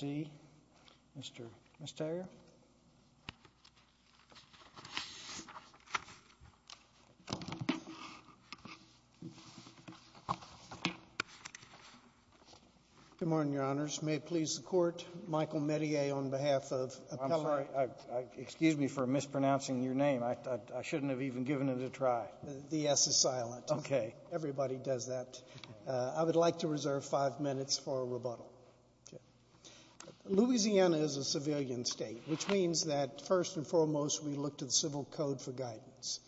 Good morning, Your Honors. May it please the Court, Michael Metier, on behalf of Appellate I'm sorry, excuse me for mispronouncing your name. I shouldn't have even given it a try. The S is silent. Okay. Everybody does that. I would like to reserve five minutes for rebuttal. Louisiana is a civilian state, which means that first and foremost we look to the Civil Code for guidance.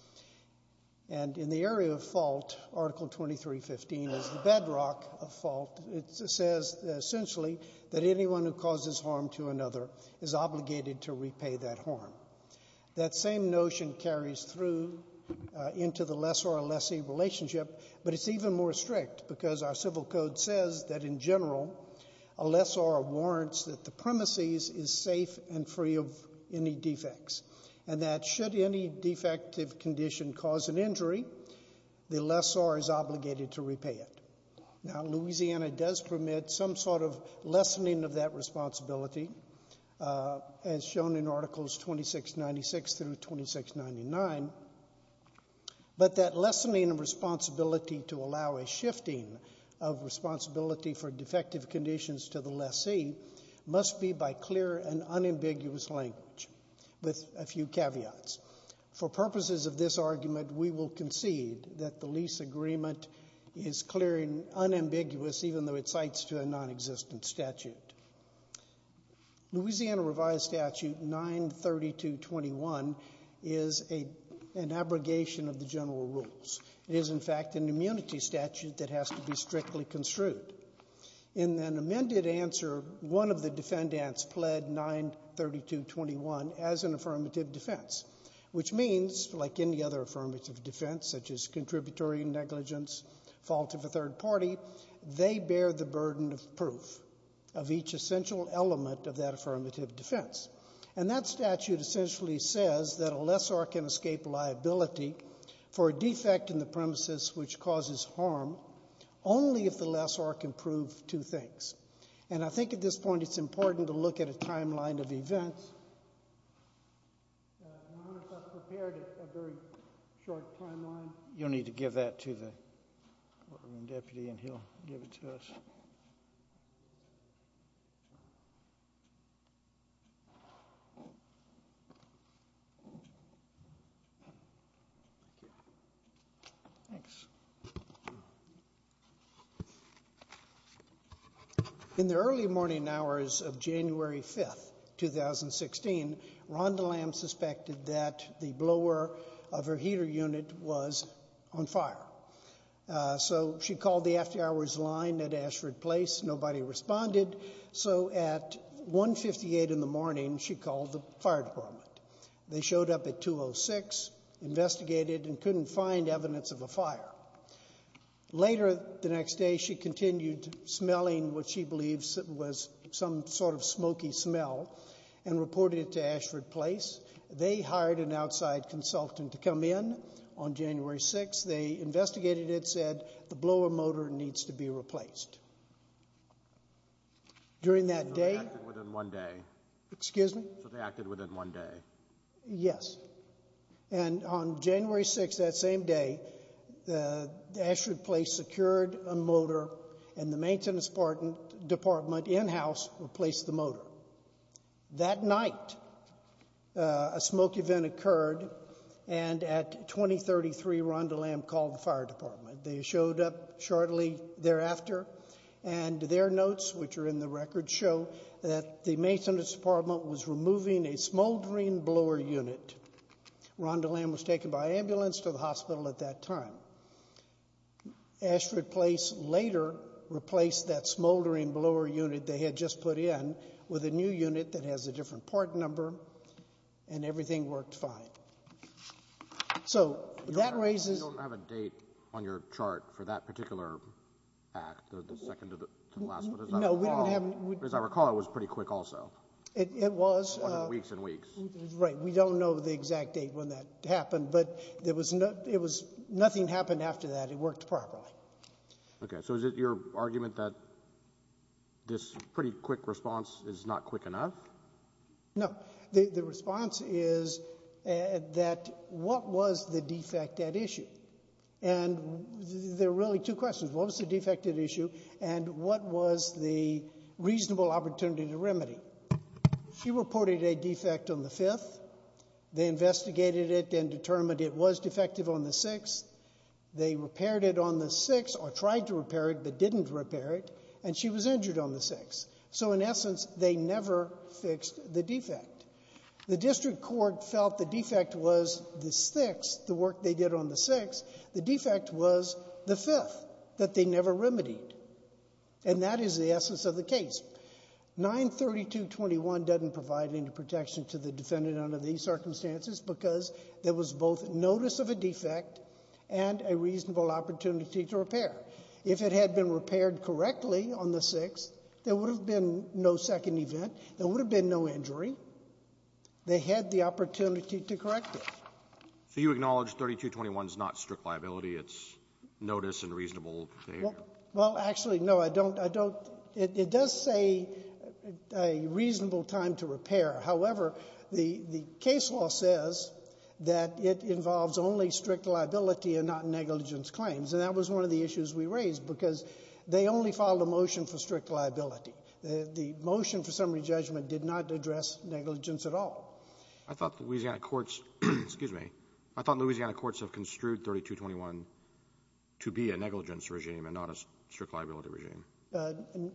And in the area of fault, Article 2315 is the bedrock of fault. It says essentially that anyone who causes harm to another is obligated to repay that harm. That same notion carries through into the lessor-lessee relationship, but it's even more strict because our Civil Code says that in general a lessor warrants that the premises is safe and free of any defects and that should any defective condition cause an injury, the lessor is obligated to repay it. Now, Louisiana does permit some sort of lessening of that responsibility as shown in Articles 2696 through 2699, but that lessening responsibility to allow a shifting of responsibility for defective conditions to the lessee must be by clear and unambiguous language with a few caveats. For purposes of this argument, we will concede that the lease agreement is clear and unambiguous even though it cites to a nonexistent statute. Louisiana revised statute 93221 is an abrogation of the general rules. It is, in fact, an immunity statute that has to be strictly construed. In an amended answer, one of the defendants pled 93221 as an affirmative defense, which means, like any other affirmative defense, such as contributory negligence, fault of a third party, they bear the burden of proof of each essential element of that affirmative defense. And that statute essentially says that a lessor can escape liability for a defect in the premises which causes harm only if the lessor can prove two things. And I think at this point it's important to look at a timeline of events. I wonder if I've prepared a very short timeline. You'll need to give that to the courtroom deputy, and he'll give it to us. Thank you. Thanks. In the early morning hours of January 5th, 2016, Rhonda Lamb suspected that the blower of her heater unit was on fire. So she called the after-hours line at Ashford Place. Nobody responded. So at 158 in the morning, she called the fire department. They showed up at 206, investigated, and couldn't find evidence of a fire. Later the next day, she continued smelling what she believes was some sort of smoky smell and reported it to Ashford Place. They hired an outside consultant to come in on January 6th. They investigated it, said the blower motor needs to be replaced. So they acted within one day? Excuse me? So they acted within one day? Yes. And on January 6th, that same day, Ashford Place secured a motor and the maintenance department in-house replaced the motor. That night, a smoke event occurred, and at 2033, Rhonda Lamb called the fire department. They showed up shortly thereafter, and their notes, which are in the record, show that the maintenance department was removing a smoldering blower unit. Rhonda Lamb was taken by ambulance to the hospital at that time. Ashford Place later replaced that smoldering blower unit they had just put in with a new unit that has a different part number, and everything worked fine. So that raises — You don't have a date on your chart for that particular act, the second to the last one, as I recall. No, we don't have — As I recall, it was pretty quick also. It was. One of the weeks and weeks. Right. We don't know the exact date when that happened, but it was — nothing happened after that. It worked properly. Okay. So is it your argument that this pretty quick response is not quick enough? No. The response is that what was the defect at issue? And there are really two questions. What was the defect at issue, and what was the reasonable opportunity to remedy? She reported a defect on the 5th. They investigated it and determined it was defective on the 6th. They repaired it on the 6th, or tried to repair it but didn't repair it, and she was injured on the 6th. So in essence, they never fixed the defect. The district court felt the defect was the 6th, the work they did on the 6th. The defect was the 5th that they never remedied. And that is the essence of the case. 93221 doesn't provide any protection to the defendant under these circumstances because there was both notice of a defect and a reasonable opportunity to repair. If it had been repaired correctly on the 6th, there would have been no second event. There would have been no injury. They had the opportunity to correct it. So you acknowledge 3221 is not strict liability. It's notice and reasonable behavior. Well, actually, no. I don't. It does say a reasonable time to repair. However, the case law says that it involves only strict liability and not negligence claims, and that was one of the issues we raised because they only filed a motion for strict liability. The motion for summary judgment did not address negligence at all. I thought Louisiana courts have construed 3221 to be a negligence regime and not a strict liability regime.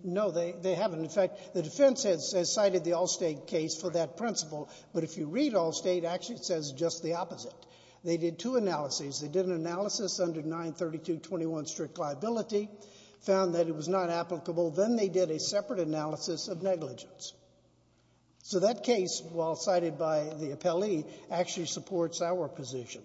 No, they haven't. In fact, the defense has cited the Allstate case for that principle, but if you read Allstate, actually it says just the opposite. They did two analyses. They did an analysis under 93221, strict liability, found that it was not applicable. Then they did a separate analysis of negligence. So that case, while cited by the appellee, actually supports our position,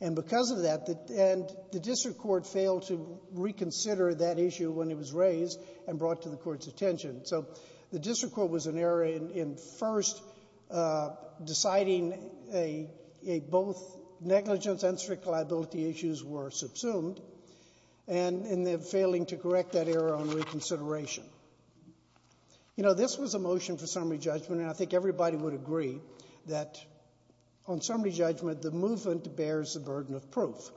and because of that the district court failed to reconsider that issue when it was raised and brought to the court's attention. So the district court was an error in first deciding both negligence and strict liability issues were subsumed and in failing to correct that error on reconsideration. You know, this was a motion for summary judgment, and I think everybody would agree that on summary judgment the movement bears the burden of proof,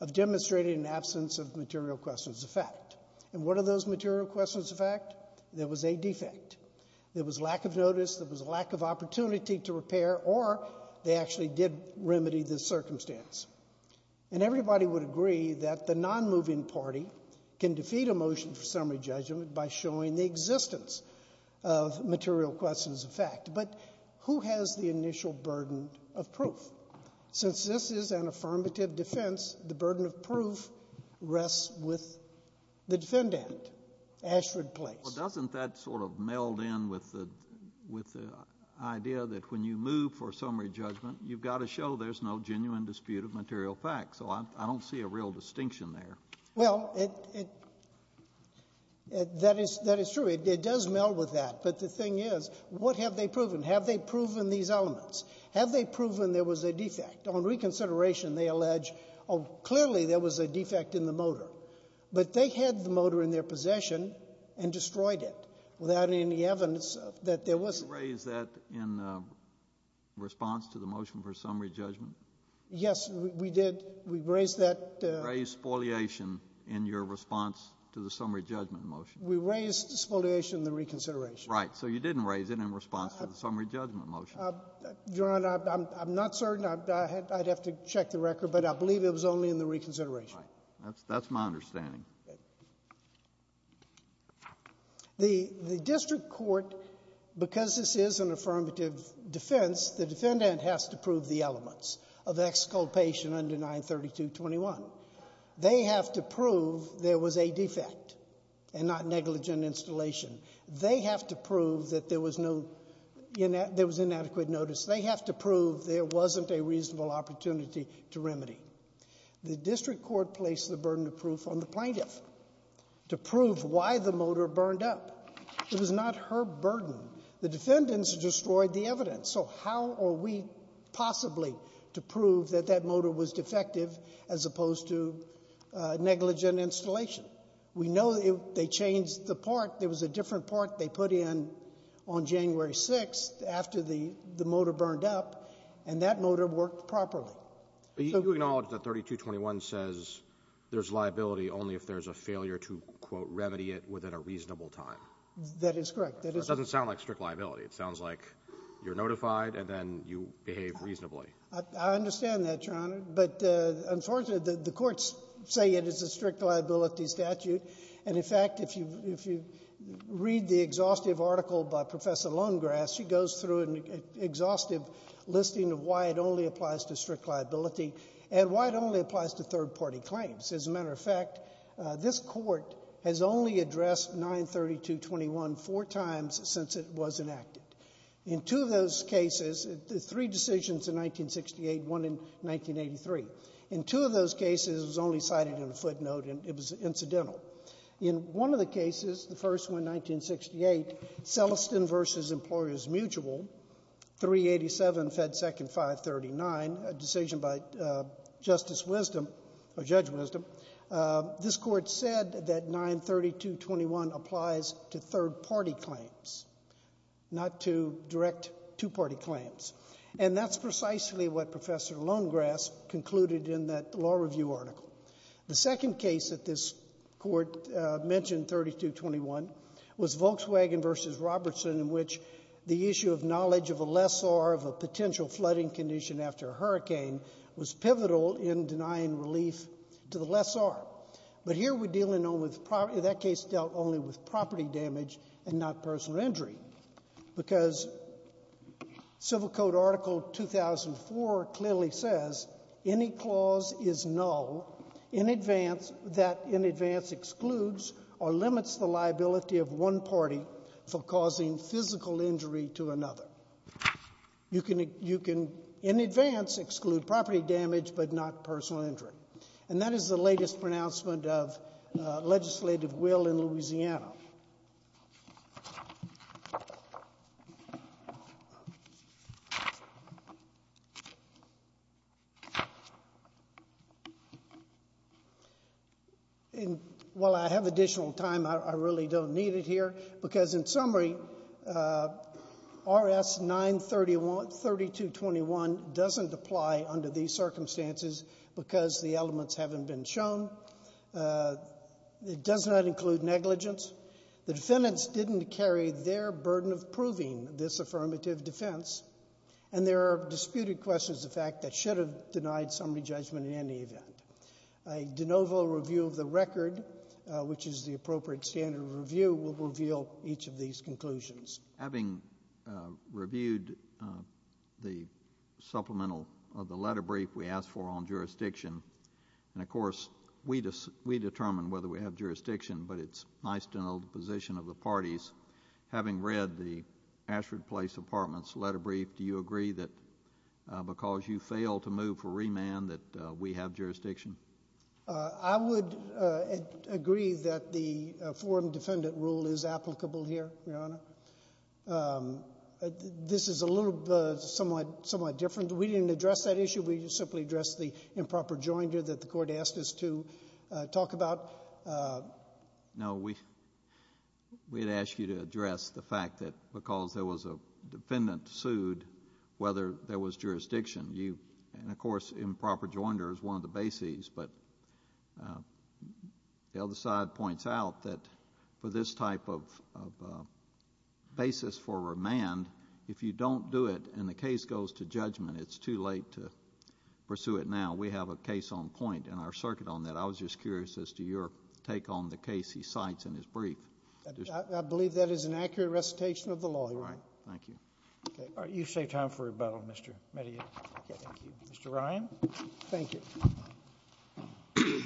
of demonstrating an absence of material questions of fact. And what are those material questions of fact? There was a defect. There was lack of notice. There was a lack of opportunity to repair, or they actually did remedy the circumstance. And everybody would agree that the nonmoving party can defeat a motion for summary judgment by showing the existence of material questions of fact, but who has the initial burden of proof? Since this is an affirmative defense, the burden of proof rests with the defendant, Ashford Place. Well, doesn't that sort of meld in with the idea that when you move for summary judgment, you've got to show there's no genuine dispute of material facts? So I don't see a real distinction there. Well, that is true. It does meld with that. But the thing is, what have they proven? Have they proven these elements? Have they proven there was a defect? On reconsideration, they allege, oh, clearly there was a defect in the motor. But they had the motor in their possession and destroyed it without any evidence that there wasn't. You raised that in response to the motion for summary judgment? Yes, we did. We raised that. You raised spoliation in your response to the summary judgment motion. We raised spoliation in the reconsideration. So you didn't raise it in response to the summary judgment motion. Your Honor, I'm not certain. I'd have to check the record. But I believe it was only in the reconsideration. Right. That's my understanding. The district court, because this is an affirmative defense, the defendant has to prove the elements of exculpation under 93221. They have to prove there was a defect and not negligent installation. They have to prove that there was inadequate notice. They have to prove there wasn't a reasonable opportunity to remedy. The district court placed the burden of proof on the plaintiff to prove why the motor burned up. It was not her burden. The defendants destroyed the evidence. So how are we possibly to prove that that motor was defective as opposed to negligent installation? We know they changed the part. There was a different part they put in on January 6th after the motor burned up, and that motor worked properly. But you acknowledge that 3221 says there's liability only if there's a failure to, quote, remedy it within a reasonable time. That is correct. That is correct. It doesn't sound like strict liability. It sounds like you're notified and then you behave reasonably. I understand that, Your Honor. But, unfortunately, the courts say it is a strict liability statute. And, in fact, if you read the exhaustive article by Professor Lonegrass, she goes through an exhaustive listing of why it only applies to strict liability and why it only applies to third-party claims. As a matter of fact, this court has only addressed 93221 four times since it was enacted. In two of those cases, three decisions in 1968, one in 1983. In two of those cases, it was only cited in a footnote and it was incidental. In one of the cases, the first one, 1968, Celestin v. Employers Mutual, 387 Fed Second 539, a decision by Justice Wisdom or Judge Wisdom, this court said that 93221 applies to third-party claims, not to direct two-party claims. And that's precisely what Professor Lonegrass concluded in that law review article. The second case that this court mentioned, 93221, was Volkswagen v. Robertson, in which the issue of knowledge of a lessor of a potential flooding condition after a hurricane was pivotal in denying relief to the lessor. But here we're dealing only with property. That case dealt only with property damage and not personal injury because Civil Code Article 2004 clearly says, any clause is null that in advance excludes or limits the liability of one party for causing physical injury to another. You can in advance exclude property damage but not personal injury. And that is the latest pronouncement of legislative will in Louisiana. And while I have additional time, I really don't need it here, because in summary, RS 93221 doesn't apply under these circumstances because the elements haven't been shown. It does not include negligence. The defendants didn't carry their burden of proving this affirmative defense, and there are disputed questions of fact that should have denied summary judgment in any event. A de novo review of the record, which is the appropriate standard of review, will reveal each of these conclusions. Having reviewed the supplemental of the letter brief we asked for on jurisdiction, and, of course, we determine whether we have jurisdiction, but it's nice to know the position of the parties. Having read the Ashford Place Apartments letter brief, do you agree that because you failed to move for remand that we have jurisdiction? I would agree that the forum defendant rule is applicable here, Your Honor. This is a little somewhat different. We didn't address that issue. We simply addressed the improper joinder that the Court asked us to talk about. No. We had asked you to address the fact that because there was a defendant sued whether there was jurisdiction. And, of course, improper joinder is one of the bases, but the other side points out that for this type of basis for remand, if you don't do it and the case goes to judgment, it's too late to pursue it now. We have a case on point in our circuit on that. I was just curious as to your take on the case he cites in his brief. I believe that is an accurate recitation of the law, Your Honor. All right. Thank you. Okay. All right. You've saved time for rebuttal, Mr. Medea. Thank you. Mr. Ryan. Thank you.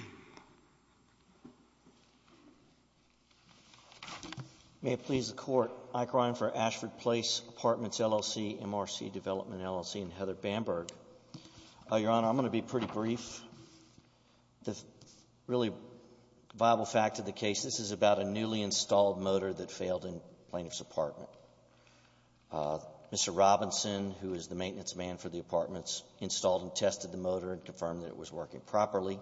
May it please the Court. Ike Ryan for Ashford Place Apartments, LLC, MRC Development, LLC, and Heather Bamberg. Your Honor, I'm going to be pretty brief. The really viable fact of the case, this is about a newly installed motor that failed in the plaintiff's apartment. Mr. Robinson, who is the maintenance man for the apartments, installed and tested the motor and confirmed that it was working properly.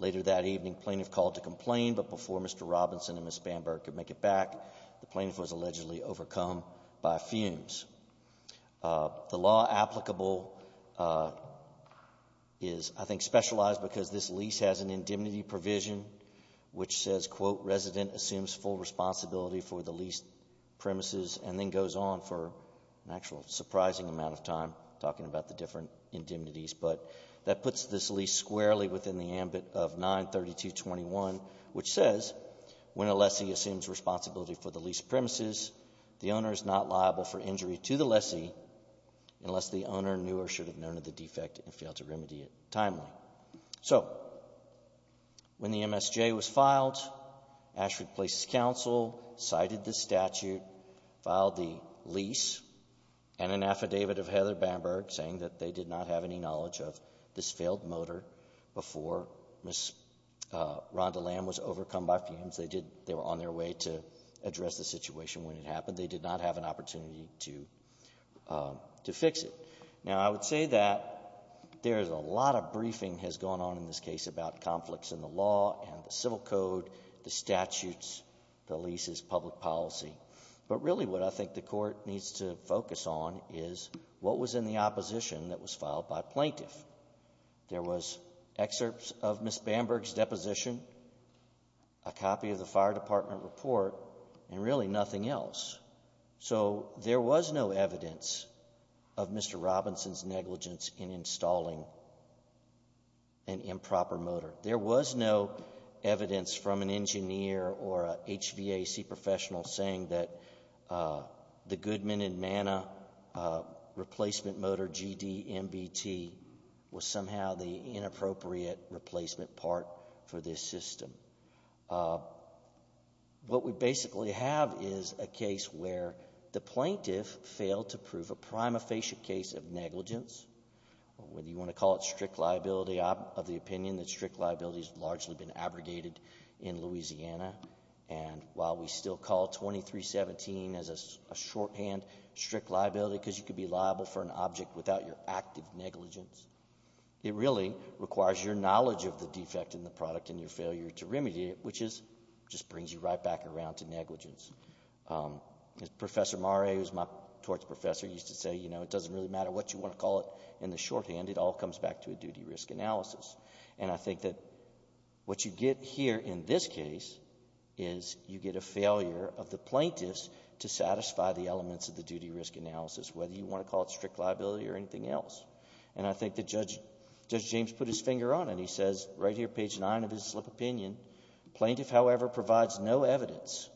Later that evening, plaintiff called to complain, but before Mr. Robinson and Ms. Bamberg could make it back, the plaintiff was allegedly overcome by fumes. The law applicable is, I think, specialized because this lease has an indemnity provision which says, quote, resident assumes full responsibility for the lease premises and then goes on for an actual surprising amount of time talking about the different indemnities, but that puts this lease squarely within the ambit of 93221, which says, when a lessee assumes responsibility for the lease premises, the owner is not liable for injury to the lessee unless the owner knew or should have known of the defect and failed to remedy it timely. So when the MSJ was filed, Ashford Place's counsel cited the statute, filed the case, but they did not have any knowledge of this failed motor before Ms. Rondeland was overcome by fumes. They were on their way to address the situation when it happened. They did not have an opportunity to fix it. Now, I would say that there is a lot of briefing has gone on in this case about conflicts in the law and the civil code, the statutes, the leases, public policy. But really what I think the Court needs to focus on is what was in the opposition that was filed by plaintiff. There was excerpts of Ms. Bamberg's deposition, a copy of the fire department report, and really nothing else. So there was no evidence of Mr. Robinson's negligence in installing an improper motor. There was no evidence from an engineer or a HVAC professional saying that the Goodman and Mana replacement motor, GD-MBT, was somehow the inappropriate replacement part for this system. What we basically have is a case where the plaintiff failed to prove a prima facie case of negligence, whether you want to call it strict liability of the opinion that strict liability has largely been abrogated in Louisiana. And while we still call 2317 as a shorthand strict liability because you can be liable for an object without your active negligence, it really requires your knowledge of the defect in the product and your failure to remediate it, which just brings you right back around to negligence. Professor Mare, who is my torts professor, used to say, you know, it doesn't really matter what you want to call it in the shorthand. It all comes back to a duty-risk analysis. And I think that what you get here in this case is you get a failure of the plaintiffs to satisfy the elements of the duty-risk analysis, whether you want to call it strict liability or anything else. And I think that Judge James put his finger on it. He says right here, page 9 of his slip of opinion, plaintiff, however, provides no evidence,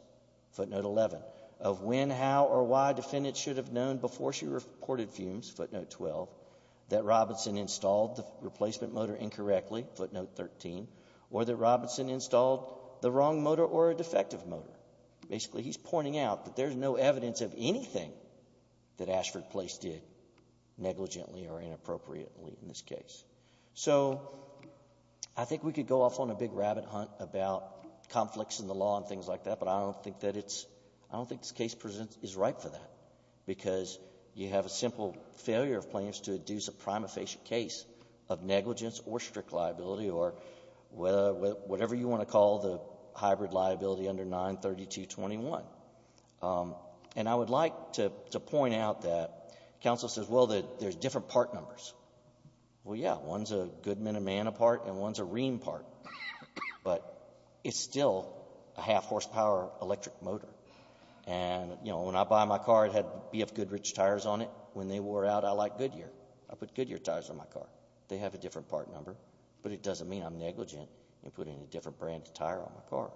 footnote 11, of when, how, or why defendants should have known before she reported fumes, footnote 12, that Robinson installed the replacement motor incorrectly, footnote 13, or that Robinson installed the wrong motor or a defective motor. Basically, he's pointing out that there's no evidence of anything that Ashford Place did negligently or inappropriately in this case. So I think we could go off on a big rabbit hunt about conflicts in the law and things like that, but I don't think that it's – I don't think this case is ripe for that, because you have a simple failure of plaintiffs to induce a prima facie case of negligence or strict liability or whatever you want to call the hybrid liability under 93221. And I would like to point out that counsel says, well, there's different part numbers. Well, yeah, one's a Goodman and Manna part and one's a Ream part, but it's still a half-horsepower electric motor. And, you know, when I buy my car, it had BF Goodrich tires on it. When they wore out, I like Goodyear. I put Goodyear tires on my car. They have a different part number, but it doesn't mean I'm negligent in putting a different brand of tire on my car.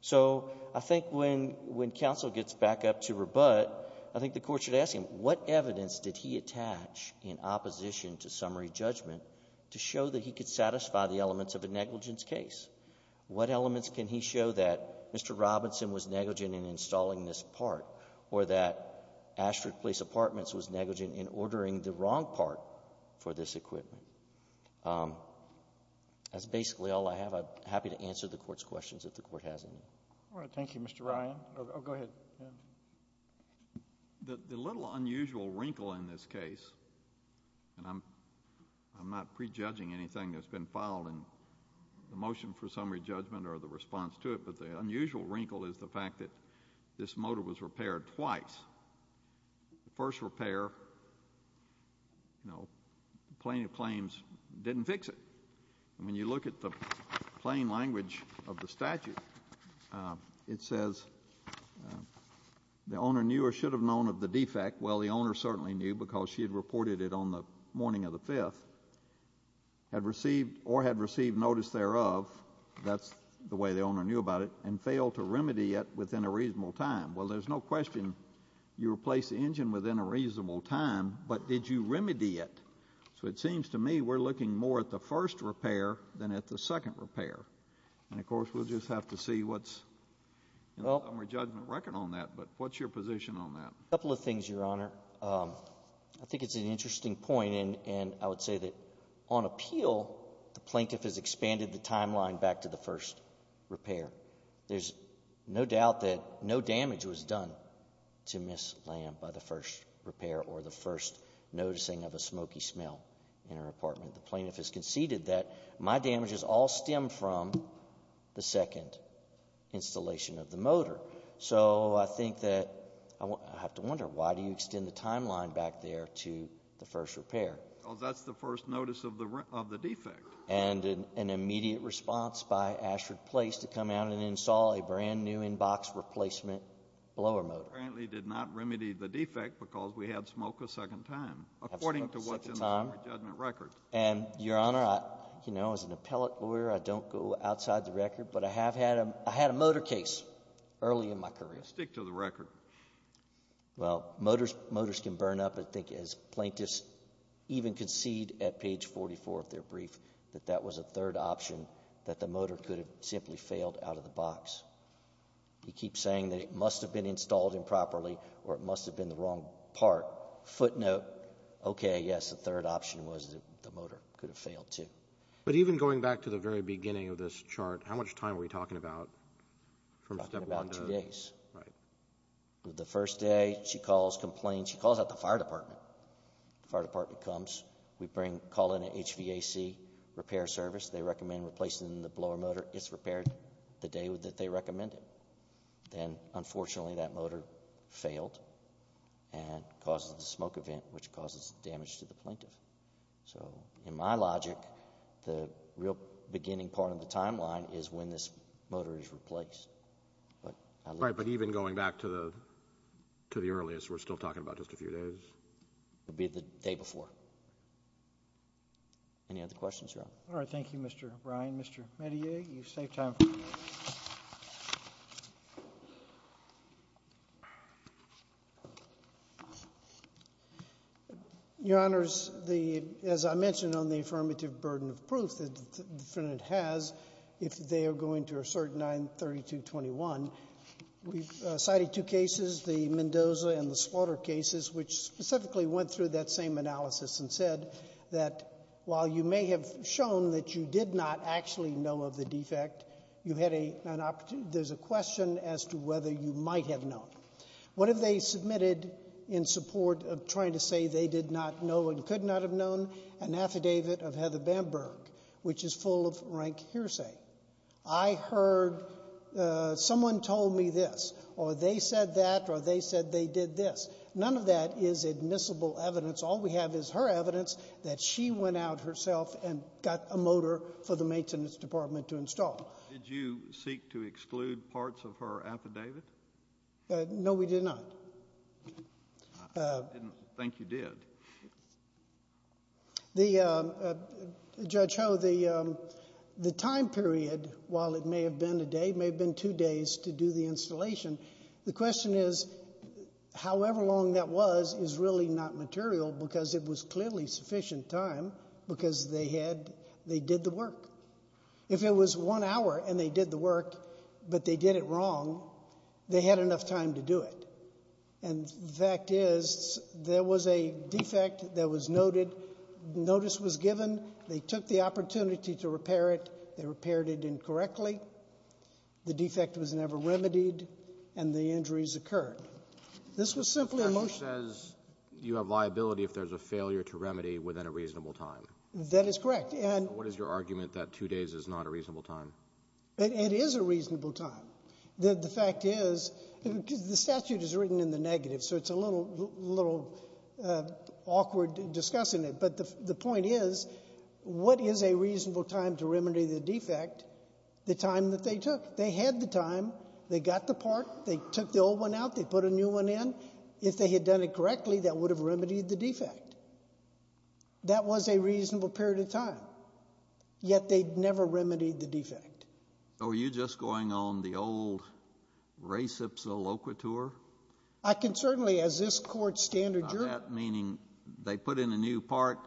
So I think when counsel gets back up to rebut, I think the Court should ask him, what evidence did he attach in opposition to summary judgment to show that he could satisfy the elements of a negligence case? What elements can he show that Mr. Robinson was negligent in installing this part or that Ashford Police Apartments was negligent in ordering the wrong part for this equipment? That's basically all I have. I'm happy to answer the Court's questions if the Court has any. All right. Thank you, Mr. Ryan. Oh, go ahead. The little unusual wrinkle in this case, and I'm not prejudging anything that's for summary judgment or the response to it, but the unusual wrinkle is the fact that this motor was repaired twice. The first repair, you know, plaintiff claims didn't fix it. And when you look at the plain language of the statute, it says, the owner knew or should have known of the defect. Well, the owner certainly knew because she had reported it on the morning of the 5th, or had received notice thereof, that's the way the owner knew about it, and failed to remedy it within a reasonable time. Well, there's no question you replaced the engine within a reasonable time, but did you remedy it? So it seems to me we're looking more at the first repair than at the second repair. And, of course, we'll just have to see what's in the summary judgment record on that. But what's your position on that? A couple of things, Your Honor. I think it's an interesting point. And I would say that on appeal, the plaintiff has expanded the timeline back to the first repair. There's no doubt that no damage was done to Ms. Lamb by the first repair or the first noticing of a smoky smell in her apartment. The plaintiff has conceded that my damages all stem from the second installation of the motor. So I think that I have to wonder, why do you extend the timeline back there to the first repair? Because that's the first notice of the defect. And an immediate response by Ashford Place to come out and install a brand-new in-box replacement blower motor. Apparently did not remedy the defect because we had smoke a second time, according to what's in the summary judgment record. And, Your Honor, you know, as an appellate lawyer, I don't go outside the record, but I have had a motor case early in my career. Stick to the record. Well, motors can burn up. I think as plaintiffs even concede at page 44 of their brief that that was a third option, that the motor could have simply failed out of the box. You keep saying that it must have been installed improperly or it must have been the wrong part. Footnote, okay, yes, the third option was that the motor could have failed too. But even going back to the very beginning of this chart, how much time are we talking about from step one to? We're talking about two days. Right. The first day, she calls, complains. She calls out the fire department. The fire department comes. We bring, call in an HVAC repair service. They recommend replacing the blower motor. It's repaired the day that they recommend it. Then, unfortunately, that motor failed and causes the smoke event, which causes damage to the plaintiff. So in my logic, the real beginning part of the timeline is when this motor is replaced. Right. But even going back to the earliest, we're still talking about just a few days? It would be the day before. Any other questions, Your Honor? All right. Thank you, Mr. O'Brien. Mr. Medea, you've saved time for me. Your Honor, as I mentioned on the affirmative burden of proof that the defendant has, if they are going to assert 93221, we've cited two cases, the Mendoza and the Slaughter cases, which specifically went through that same analysis and said that while you may have shown that you did not actually know of the defect, there's a question as to whether you might have known. What have they submitted in support of trying to say they did not know and could not have known? An affidavit of Heather Bamberg, which is full of rank hearsay. I heard someone told me this, or they said that, or they said they did this. None of that is admissible evidence. All we have is her evidence that she went out herself and got a motor for the maintenance department to install. Did you seek to exclude parts of her affidavit? No, we did not. I didn't think you did. Judge Ho, the time period, while it may have been a day, may have been two days to do the installation. The question is however long that was is really not material because it was clearly sufficient time because they did the work. If it was one hour and they did the work but they did it wrong, they had enough time to do it. And the fact is there was a defect that was noted. Notice was given. They took the opportunity to repair it. They repaired it incorrectly. The defect was never remedied and the injuries occurred. This was simply a motion. The statute says you have liability if there's a failure to remedy within a reasonable time. That is correct. What is your argument that two days is not a reasonable time? It is a reasonable time. The fact is the statute is written in the negative, so it's a little awkward discussing it. But the point is what is a reasonable time to remedy the defect? The time that they took. They had the time. They got the part. They took the old one out. They put a new one in. If they had done it correctly, that would have remedied the defect. That was a reasonable period of time. Yet they never remedied the defect. So were you just going on the old recipsa locator? I can certainly, as this Court's standard jury. Meaning they put in a new part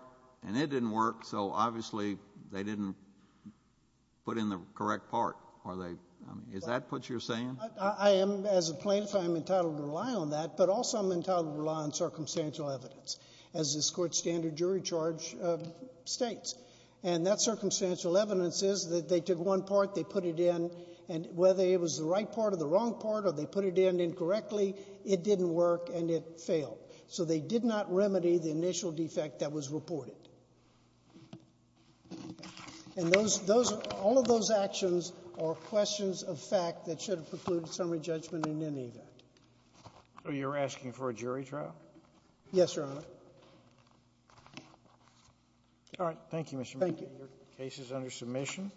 and it didn't work, so obviously they didn't put in the correct part, are they? Is that what you're saying? I am, as a plaintiff, I am entitled to rely on that. But also I'm entitled to rely on circumstantial evidence, as this Court's standard jury charge states. And that circumstantial evidence is that they took one part, they put it in, and whether it was the right part or the wrong part or they put it in incorrectly, it didn't work and it failed. So they did not remedy the initial defect that was reported. And all of those actions are questions of fact that should have precluded summary judgment in any event. So you're asking for a jury trial? Yes, Your Honor. All right. Thank you, Mr. McNamara. Thank you. Your case is under submission.